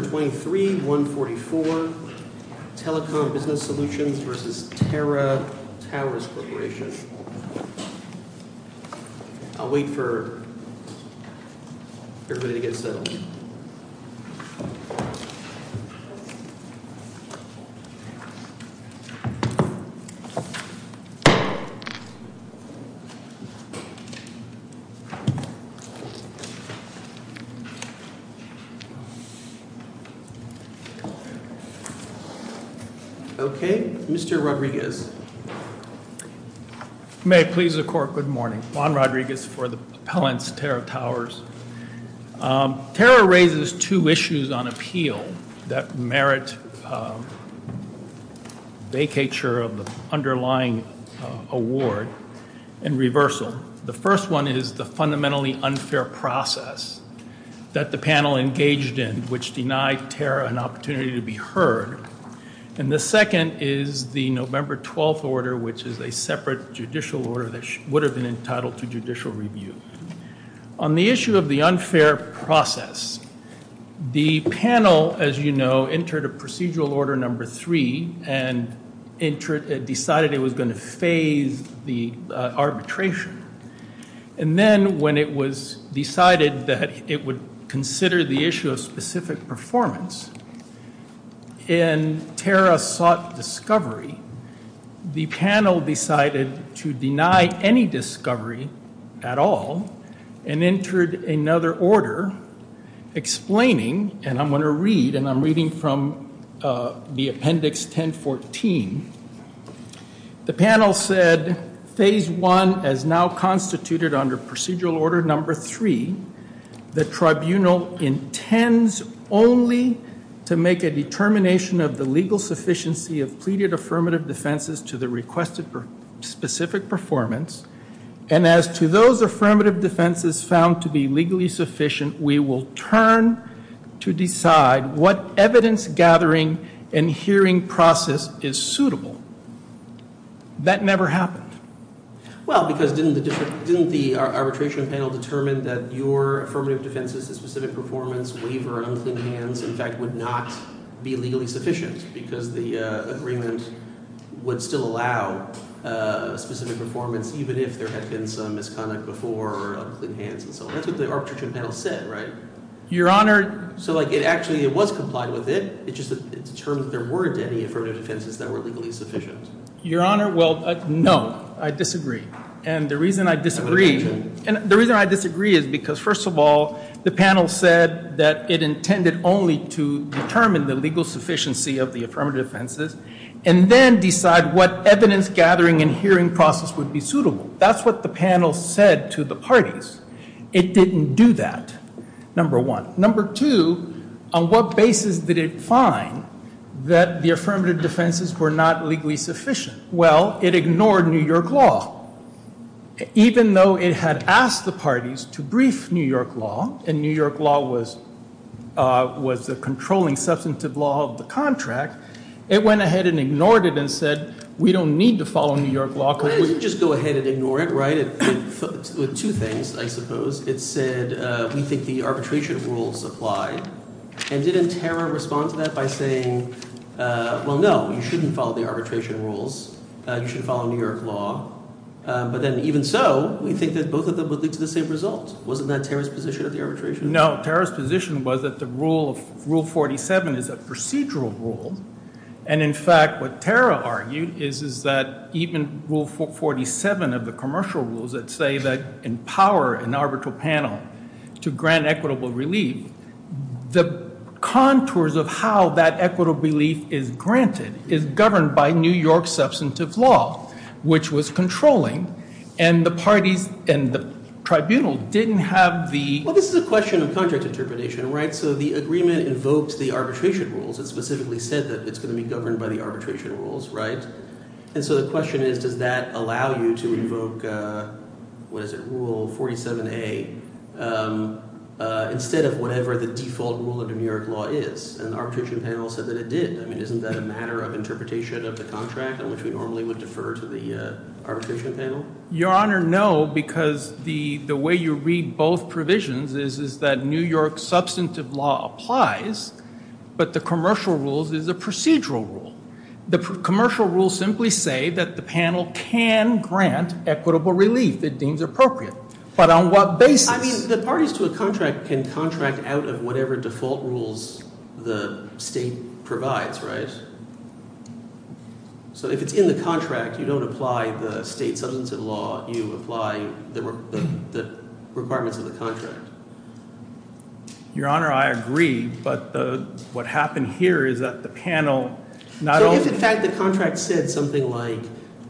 I'll wait for everybody to get settled. Okay, Mr. Rodriguez. May it please the court, good morning. Juan Rodriguez for the appellant's Terra Towers. Terra raises two issues on appeal that merit vacature of the underlying award and reversal. The first one is the fundamentally unfair process that the panel engaged in, which denied Terra an opportunity to be heard. And the second is the November 12th order, which is a separate judicial order that would have been entitled to judicial review. On the issue of the unfair process, the panel, as you know, entered a procedural order number three and decided it was going to phase the case, but it would consider the issue of specific performance. And Terra sought discovery. The panel decided to deny any discovery at all and entered another order explaining, and I'm going to read, and I'm reading from the appendix 1014. The panel said phase one as now constituted under procedural order number three, the tribunal intends only to make a determination of the legal sufficiency of pleaded affirmative defenses to the requested specific performance. And as to those affirmative defenses found to be legally sufficient, we will turn to decide what evidence gathering and hearing process is suitable. That never happened. Well, because didn't the arbitration panel determine that your affirmative defenses to specific performance, waiver, unclean hands, in fact, would not be legally sufficient because the agreement would still allow specific performance even if there had been some misconduct before or unclean hands and so on. That's what the arbitration panel said, right? Your Honor. So, like, it actually was complied with it. It just determined there weren't any affirmative defenses that were legally sufficient. Your Honor, well, no. I disagree. And the reason I disagree is because, first of all, the panel said that it intended only to determine the legal sufficiency of the affirmative defenses and then decide what evidence gathering and hearing process would be suitable. That's what the panel said to the parties. It didn't do that, number one. Number two, on what basis did it find that the affirmative defenses were not legally sufficient? Well, it ignored New York law. Even though it had asked the parties to brief New York law and New York law was the controlling substantive law of the contract, it went ahead and ignored it and said, we don't need to follow New York law. Why didn't you just go ahead and ignore it, right? With two things, I suppose. It said, we think the arbitration rules apply. And didn't Tara respond to that by saying, well, no, you shouldn't follow the arbitration rules. You should follow New York law. But then even so, we think that both of them would lead to the same result. Wasn't that Tara's position of the arbitration? No, Tara's position was that rule 47 is a procedural rule. And in fact, what Tara argued is that even rule 47 of the commercial rules that say that empower an arbitral panel to grant equitable relief, the contours of how that equitable relief is granted is governed by New York substantive law, which was controlling. And the parties and the tribunal didn't have the... Well, this is a question of contract interpretation, right? So the agreement invokes the arbitration rules. It specifically said that it's going to be governed by the arbitration rules, right? And so the question is, does that allow you to invoke, what is it, rule 47A, instead of whatever the default rule of New York law is? And the arbitration panel said that it did. I mean, isn't that a matter of Your Honor, no, because the way you read both provisions is that New York substantive law applies, but the commercial rules is a procedural rule. The commercial rules simply say that the panel can grant equitable relief it deems appropriate. But on what basis? I mean, the parties to a contract can contract out of whatever default rules the state provides, right? So if it's in the contract, you don't apply the state substantive law. You apply the requirements of the contract. Your Honor, I agree. But what happened here is that the panel... So if, in fact, the contract said something like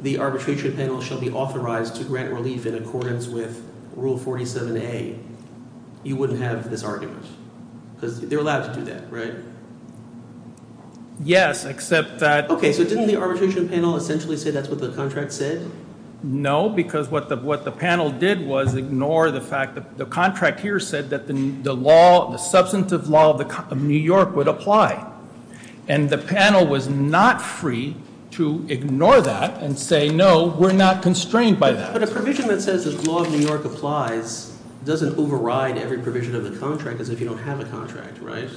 the arbitration panel shall be authorized to grant relief in accordance with rule 47A, you wouldn't have this argument? Because they're allowed to do that, right? Yes, except that... Okay, so didn't the arbitration panel essentially say that's what the contract said? No, because what the panel did was ignore the fact that the contract here said that the law, the substantive law of New York would apply. And the panel was not free to ignore that and say, no, we're not constrained by that. But a provision that says the law of New York applies doesn't override every provision of the contract as if you don't have a contract, right?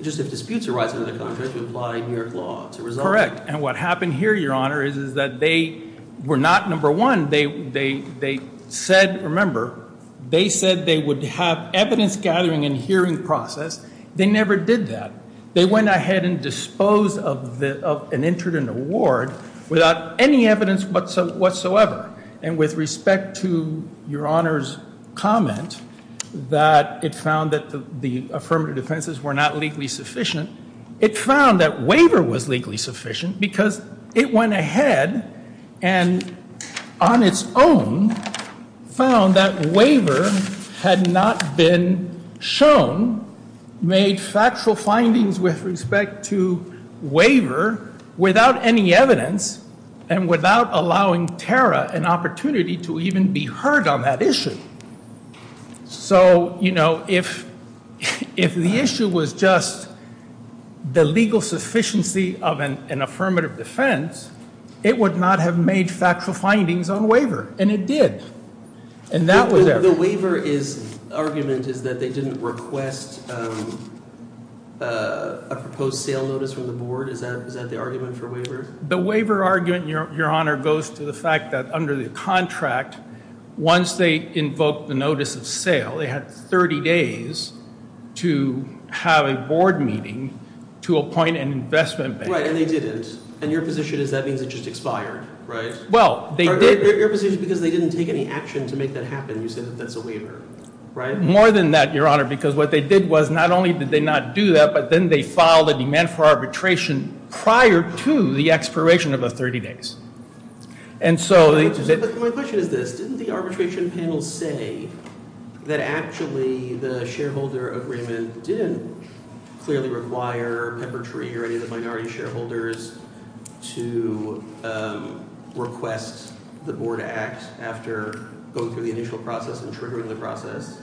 Just if disputes arise under the contract, you apply New York law to resolve it. Correct. And what happened here, Your Honor, is that they were not number one. They said, remember, they said they would have evidence gathering and hearing process. They never did that. They went ahead and disposed of an affirmative defense that entered an award without any evidence whatsoever. And with respect to Your Honor's comment that it found that the affirmative defenses were not legally sufficient, it found that waiver was legally sufficient because it went ahead and on its own found that waiver had not been shown, made factual findings with respect to waiver without any evidence and without allowing Tara an opportunity to even be heard on that issue. So, you know, if the issue was just the legal sufficiency of an affirmative defense, it would not have made factual findings on waiver. And it did. The waiver argument is that they didn't request a proposed sale notice from the board. Is that the argument for waiver? The waiver argument, Your Honor, goes to the fact that under the contract, once they invoked the notice of sale, they had 30 days to have a board meeting to appoint an investment bank. Right, and they didn't. And your position is that means it just expired, right? Your position is because they didn't take any action to make that happen. You said that that's a waiver, right? More than that, Your Honor, because what they did was not only did they not do that, but then they filed a demand for arbitration prior to the expiration of the 30 days. My question is this. Didn't the arbitration panel say that actually the shareholder agreement didn't clearly require Peppertree or any of the minority shareholders to request the board act after going through the initial process and triggering the process?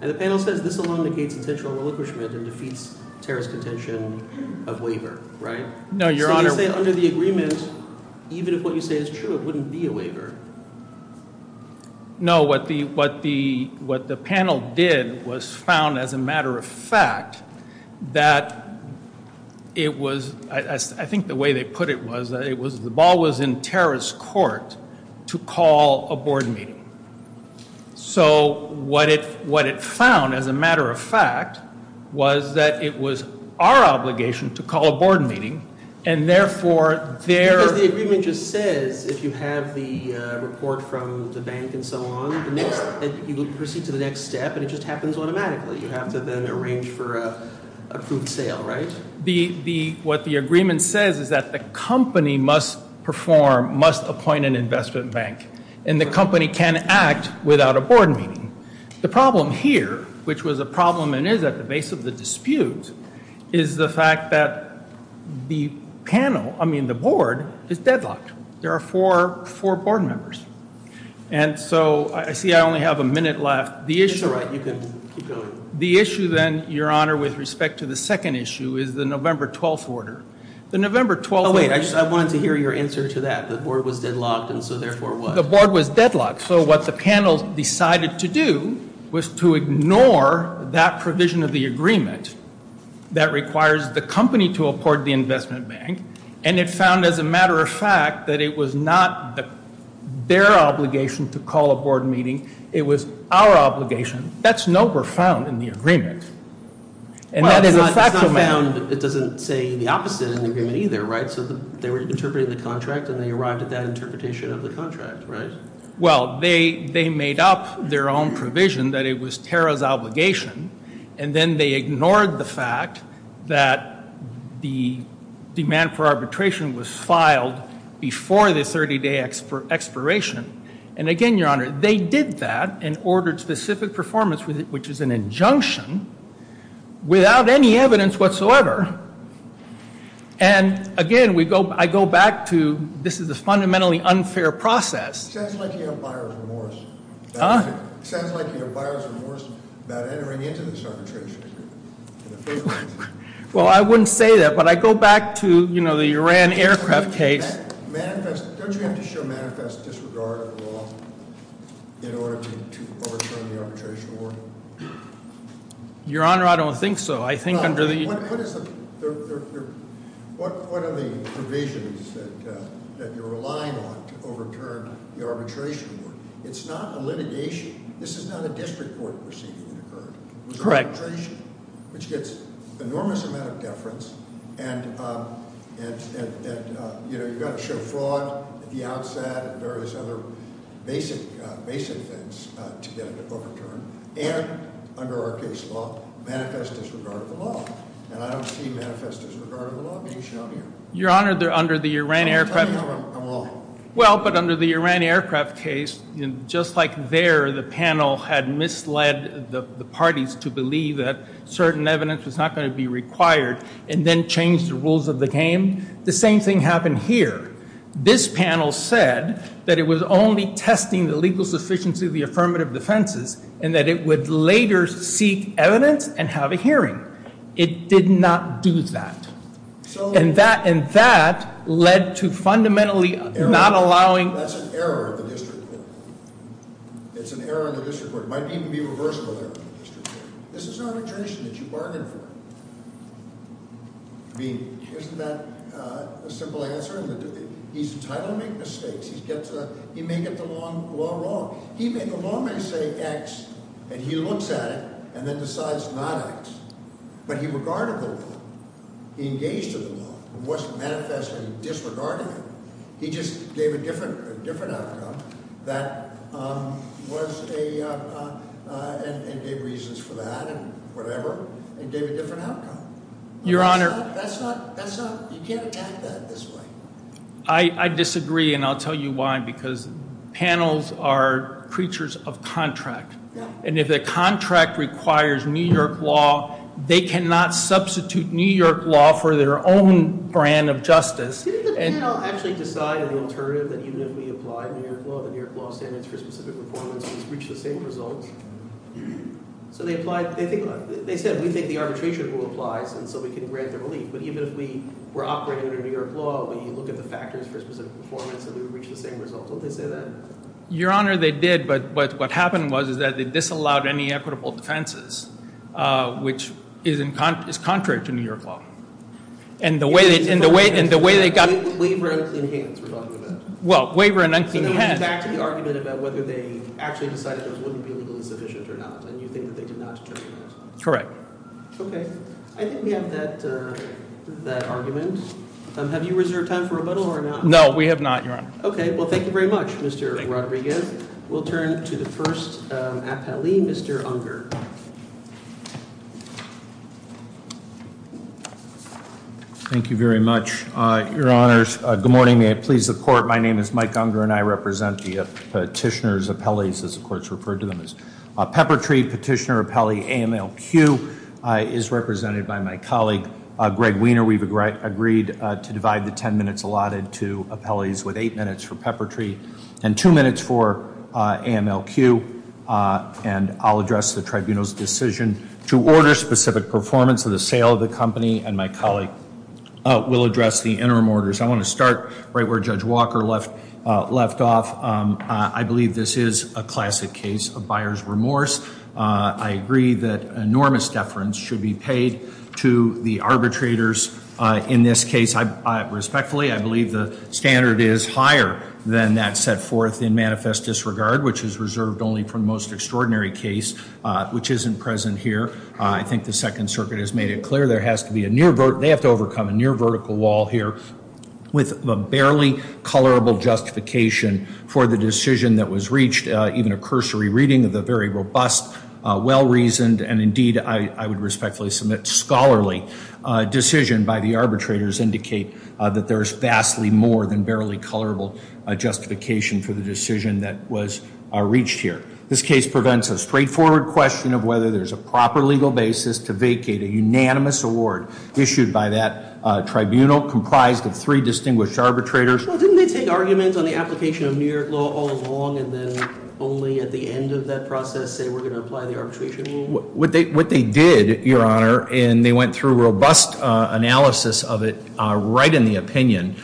And the panel says this alone negates intentional relinquishment and defeats terrorist contention of waiver, right? No, Your Honor. So you say under the agreement, even if what you say is true, it wouldn't be a waiver. No, what the panel did was found as a matter of fact that it was, I think the way they put it was the ball was in terrorist court to call a board meeting. So what it found as a matter of fact was that it was our obligation to call a board meeting and therefore... Because the agreement just says if you have the report from the bank and so on, you proceed to the next step and it just happens automatically. You have to then arrange for an approved sale, right? What the agreement says is that the company must perform, must appoint an investment bank and the company can act without a board meeting. The problem here, which was a dispute, is the fact that the panel, I mean the board, is deadlocked. There are four board members. And so I see I only have a minute left. It's all right, you can keep going. The issue then, Your Honor, with respect to the second issue is the November 12th order. The November 12th order... Oh wait, I wanted to hear your answer to that. The board was deadlocked and so therefore what? The board was deadlocked. So what the panel decided to do was to ignore that provision of the agreement that requires the company to apport the investment bank and it found as a matter of fact that it was not their obligation to call a board meeting. It was our obligation. That's November found in the agreement. And that is a factual matter. It's not found, it doesn't say the opposite in the agreement either, right? So they were interpreting the contract, right? Well, they made up their own provision that it was Tara's obligation and then they ignored the fact that the demand for arbitration was filed before the 30 day expiration. And again, Your Honor, they did that and ordered specific performance, which is an injunction, without any evidence whatsoever. And again, I go back to this is a fundamentally unfair process. Sounds like you have buyer's remorse. Huh? Sounds like you have buyer's remorse about entering into this arbitration. Well, I wouldn't say that, but I go back to the Iran aircraft case. Don't you have to show manifest disregard at all in order to overturn the arbitration award? Your Honor, I don't think so. I think under the What are the provisions that you're relying on to overturn the arbitration award? It's not a litigation. This is not a district court proceeding that occurred. It was arbitration, which gets enormous amount of deference and you've got to show fraud at the outset and various other basic things to get it overturned. And under our case law, manifest disregard of the law. And I don't see manifest disregard of the law being shown here. Your Honor, under the Iran aircraft case just like there, the panel had misled the parties to believe that certain evidence was not going to be required and then change the rules of the game. The same thing happened here. This panel said that it was only testing the legal sufficiency of the affirmative defenses and that it would later seek evidence and have a hearing. It did not do that. And that led to fundamentally not allowing That's an error of the district court. It's an error of the district court. It might even be reversible error of the district court. This is not a tradition that you bargain for. I mean, isn't that a simple answer? He's entitled to make mistakes. He may get the law wrong. The law may say X and he looks at it and then decides not X. But he regarded the law. He engaged with the law. It wasn't manifestly disregarding it. He just gave a different outcome and gave reasons for that and whatever and gave a different outcome. You can't act that this way. I disagree and I'll tell you why. Because panels are creatures of contract. And if the contract requires New York law, they cannot substitute New York law for their own brand of justice. Your Honor, they did. But what happened was that they disallowed any equitable defenses, which is contrary to New York law. And the way they got back to the argument about whether they actually decided those wouldn't be legally sufficient or not. Correct. Okay. I think we have that argument. Have you reserved time for rebuttal or not? No, we have not. Okay. Well, thank you very much. Thank you very much, Mr Rodriguez. We'll turn to the first appellee, Mr Unger. Thank you very much, Your Honors. Good morning. May it please the court. My name is Mike Unger and I represent the petitioner's appellees, as the courts referred to them as. Peppertree Petitioner Appellee AMLQ is represented by my colleague Greg Wiener. We've agreed to divide the ten minutes allotted to appellees with eight minutes for Peppertree and two minutes for AMLQ. And I'll address the tribunal's decision to order specific performance of the sale of the company. And my colleague will address the interim orders. I want to start right where Judge Walker left off. I believe this is a classic case of buyer's remorse. I agree that enormous deference should be paid to the arbitrators in this case. Respectfully, I believe the standard is higher than that set forth in manifest disregard, which is reserved only for the most extraordinary case, which isn't present here. I think the Second Circuit has made it clear there has to be a near vertical wall here with a barely colorable justification for the decision that was reached. Even a cursory reading of the very robust, well reasoned, and indeed I would respectfully submit scholarly decision by the arbitrators indicate that there is vastly more than barely colorable justification for the decision that was reached here. This case prevents a straightforward question of whether there's a proper legal basis to vacate a unanimous award issued by that tribunal comprised of three distinguished arbitrators. Well, didn't they take arguments on the application of New York law all along and then only at the end of that process say we're going to apply the arbitration rule? What they did, Your Honor, and they went through robust analysis of it right in the opinion.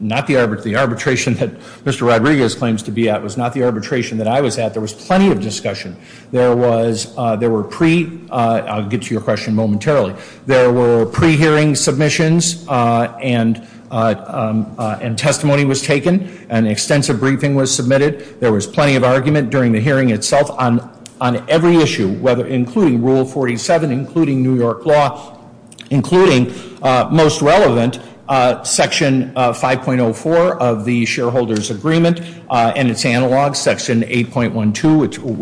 Not the arbitration that Mr. Rodriguez claims to be at was not the arbitration that I was at. There was plenty of discussion. There were pre, I'll get to your question momentarily, there were pre-hearing submissions and testimony was taken. An extensive briefing was submitted. There was plenty of argument during the hearing itself on every issue, including Rule 47, including New York law, including most relevant Section 5.04 of the New York Constitution.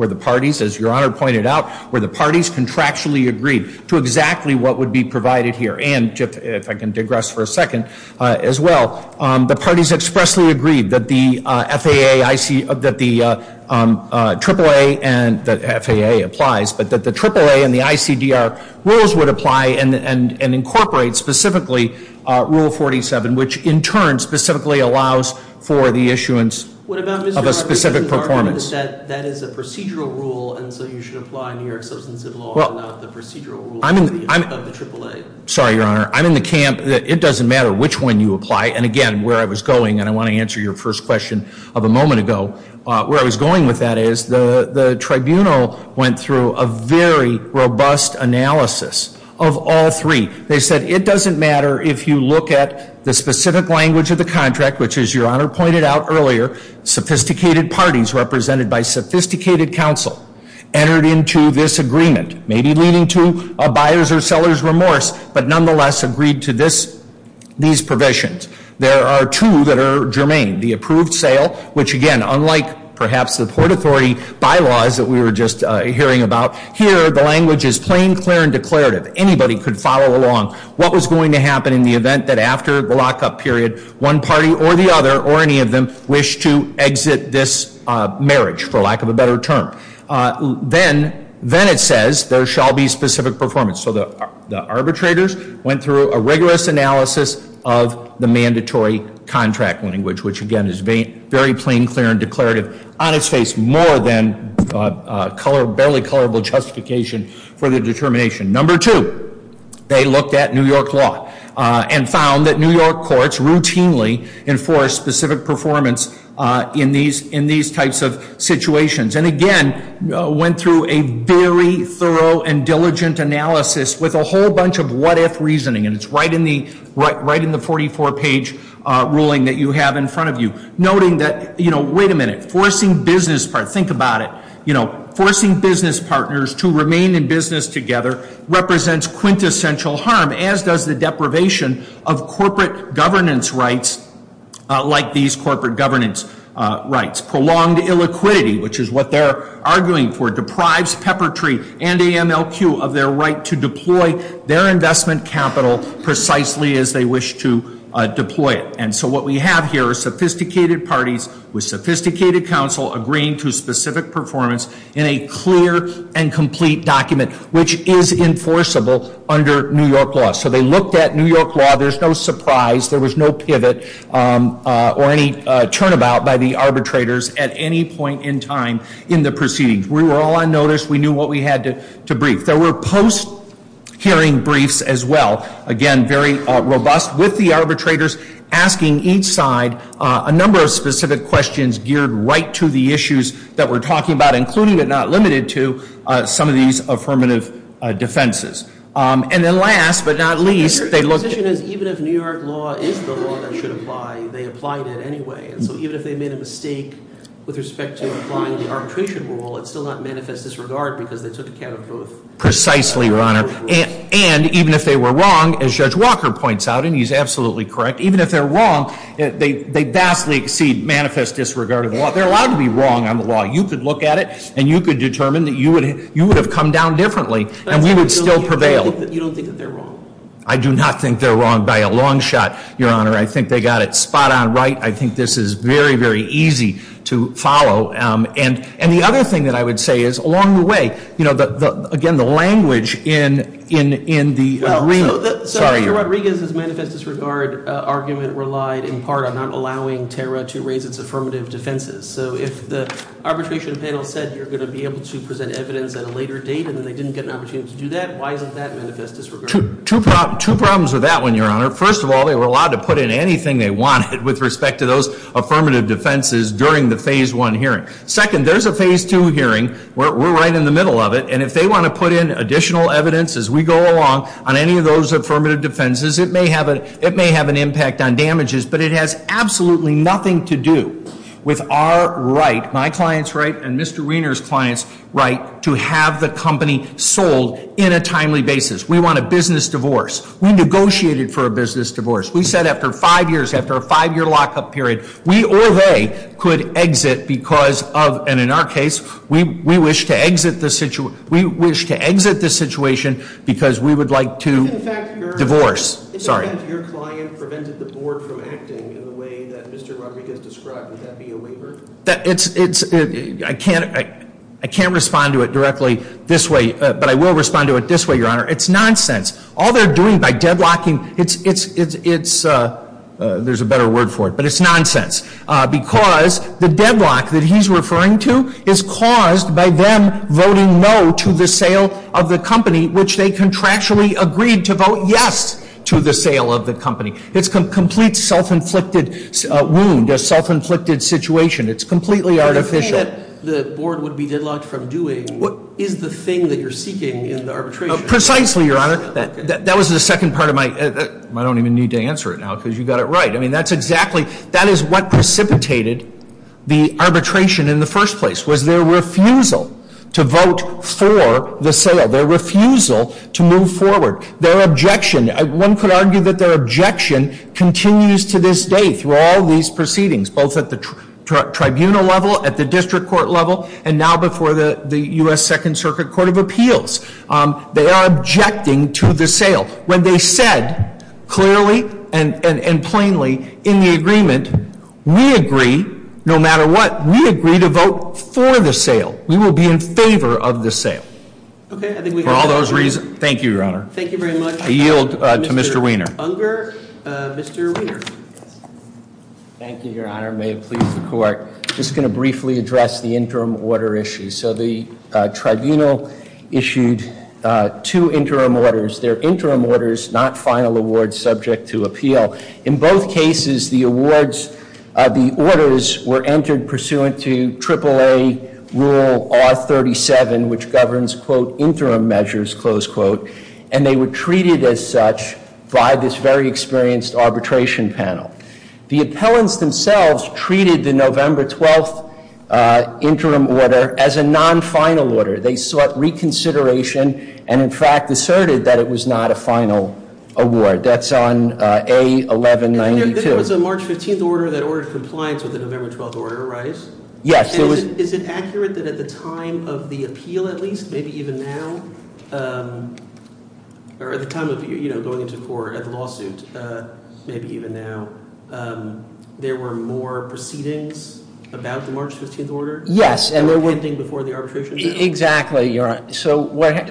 The parties, as Your Honor pointed out, were the parties contractually agreed to exactly what would be provided here. And, if I can digress for a second, as well, the parties expressly agreed that the FAA, that the AAA and, the FAA applies, but that the AAA and the ICDR rules would apply and incorporate specifically Rule 47, which in turn specifically allows for the issuance of a specific performance. That is a procedural rule and so you should apply New York Substantive Law and not the procedural rule of the AAA. Sorry, Your Honor. I'm in the camp that it doesn't matter which one you apply. And, again, where I was going, and I want to answer your first question of a moment ago, where I was going with that is the Tribunal went through a very robust analysis of all three. They said it doesn't matter if you look at the specific language of the contract, which, as Your Honor pointed out earlier, sophisticated parties represented by sophisticated counsel entered into this agreement, maybe leading to a buyer's or seller's remorse, but nonetheless agreed to this, these provisions. There are two that are germane. The approved sale, which, again, unlike perhaps the Port Authority bylaws that we were just hearing about, here the language is plain, clear, and declarative. Anybody could follow along what was going to happen in the event that after the lockup period, one party or the other, or any of them, wish to exit this marriage, for lack of a better term. Then it says there shall be specific performance. So the arbitrators went through a rigorous analysis of the mandatory contract language, which, again, is very plain, clear, and declarative on its face, more than barely colorable justification for the determination. Number two, they looked at New York law and found that New York courts routinely enforce specific performance in these types of situations. And again, went through a very thorough and diligent analysis with a whole bunch of what-if reasoning, and it's right in the 44-page ruling that you have in front of you, noting that, wait a minute, forcing business partners, think about it, forcing business partners to remain in business together represents quintessential harm, as does the deprivation of corporate governance rights like these corporate governance rights. Prolonged illiquidity, which is what they're arguing for, deprives Peppertree and AMLQ of their right to deploy their investment capital precisely as they wish to deploy it. And so what we have here are sophisticated parties with sophisticated counsel agreeing to specific performance in a clear and complete document, which is enforceable under New York law. So they looked at New York law. There's no surprise. There was no pivot or any turnabout by the arbitrators at any point in time in the proceedings. We were all on notice. We knew what we had to brief. There were post- hearing briefs as well. Again, very robust with the arbitrators asking each side a number of specific questions geared right to the issues that we're talking about, including but not limited to some of these affirmative defenses. And then last but not least, they looked... Precisely, Your Honor. And even if they were wrong, as Judge Walker points out, and he's absolutely correct, even if they're wrong, they vastly exceed manifest disregard of the law. They're allowed to be wrong on the law. You could look at it, and you could determine that you would have come down differently. And we would still prevail. You don't think that they're wrong? I do not think they're wrong by a long shot, Your Honor. I think they got it spot on right. I think this is very, very easy to follow. And the other thing that I would say is, along the way, again, the language in the... Well, so Archie Rodriguez's manifest disregard argument relied in part on not allowing TERA to raise its affirmative defenses. So if the arbitration panel said you're going to be able to present evidence at a later date, and they didn't get an opportunity to do that, why isn't that manifest disregard? Two problems with that one, Your Honor. First of all, they were allowed to put in anything they wanted with respect to those affirmative defenses during the Phase 1 hearing. Second, there's a Phase 2 hearing. We're right in the middle of it. And if they want to put in additional evidence as we go along on any of those affirmative defenses, it may have an impact on damages, but it has absolutely nothing to do with our right, my client's right, and Mr. Wiener's client's right to have the company sold in a timely basis. We want a business divorce. We negotiated for a business divorce. We said after five years, after a five-year lock-up period, we or they could exit because of, and in our case, we wish to exit the situation because we would like to divorce. Sorry. I can't respond to it directly this way, but I will respond to it this way, Your Honor. It's nonsense. All they're doing by deadlocking, it's there's a better word for it, but it's nonsense. Because the deadlock that he's referring to is caused by them voting no to the sale of the company, which they contractually agreed to vote yes to the sale of the company. It's a complete self-inflicted wound, a self-inflicted situation. It's completely artificial. The thing that the board would be deadlocked from doing is the thing that you're seeking in the arbitration. Precisely, Your Honor. That was the second part of my, I don't even need to answer it now because you got it right. I mean, that's exactly, that is what precipitated the arbitration in the first place was their refusal to vote for the sale, their refusal to move forward, their objection. One could argue that their objection continues to this day through all these proceedings, both at the tribunal level, at the district court level, and now before the U.S. Second Circuit Court of Appeals. They are plainly in the agreement, we agree, no matter what, we agree to vote for the sale. We will be in favor of the sale. For all those reasons, thank you, Your Honor. I yield to Mr. Wiener. Thank you, Your Honor. May it please the Court. I'm just going to briefly address the interim order issue. So the tribunal issued two interim orders. They're interim orders, not final awards subject to appeal. In both cases, the awards, the orders were entered pursuant to AAA Rule R37, which governs, quote, interim measures, close quote, and they were treated as such by this very experienced arbitration panel. The appellants themselves treated the November 12th arbitration and, in fact, asserted that it was not a final award. That's on A1192. And there was a March 15th order that ordered compliance with the November 12th order, right? Yes. And is it accurate that at the time of the appeal, at least, maybe even now, or at the time of going into court at the lawsuit, maybe even now, there were more proceedings about the arbitration? Exactly, Your Honor. So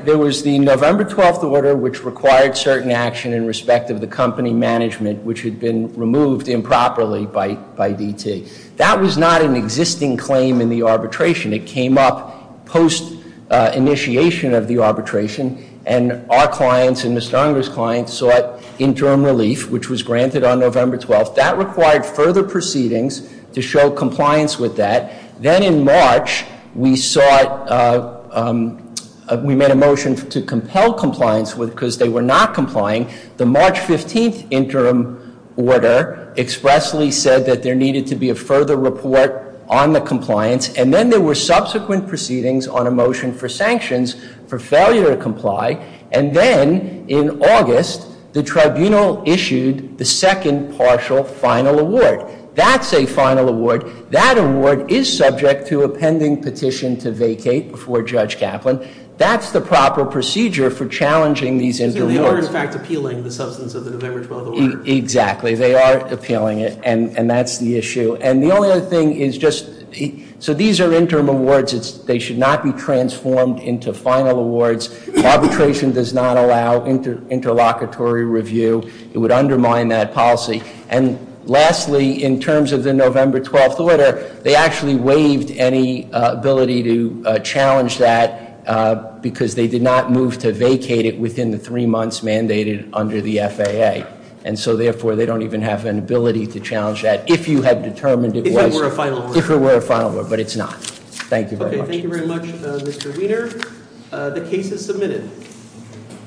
there was the November 12th order, which required certain action in respect of the company management, which had been removed improperly by DT. That was not an existing claim in the arbitration. It came up post-initiation of the arbitration, and our clients and Mr. Unger's clients sought interim relief, which was granted on November 12th. That required further proceedings to show compliance with that. Then in March, we sought we made a motion to compel compliance because they were not complying. The March 15th interim order expressly said that there needed to be a further report on the compliance. And then there were subsequent proceedings on a motion for sanctions for failure to comply. And then in August, the tribunal issued the second partial final award. That's a final award. That award is subject to a pending petition to vacate before Judge Kaplan. That's the proper procedure for challenging these interim awards. So they are, in fact, appealing the substance of the November 12th order. Exactly. They are appealing it, and that's the issue. And the only other thing is just, so these are interim awards. They should not be transformed into final awards. Arbitration does not allow interlocutory review. It would undermine that policy. And lastly, in terms of the November 12th order, they actually waived any ability to challenge that because they did not move to vacate it within the three months mandated under the FAA. And so therefore, they don't even have an ability to challenge that if you have determined it was, if it were a final award. But it's not. Thank you very much. Thank you very much, Mr. Wiener. The case is submitted.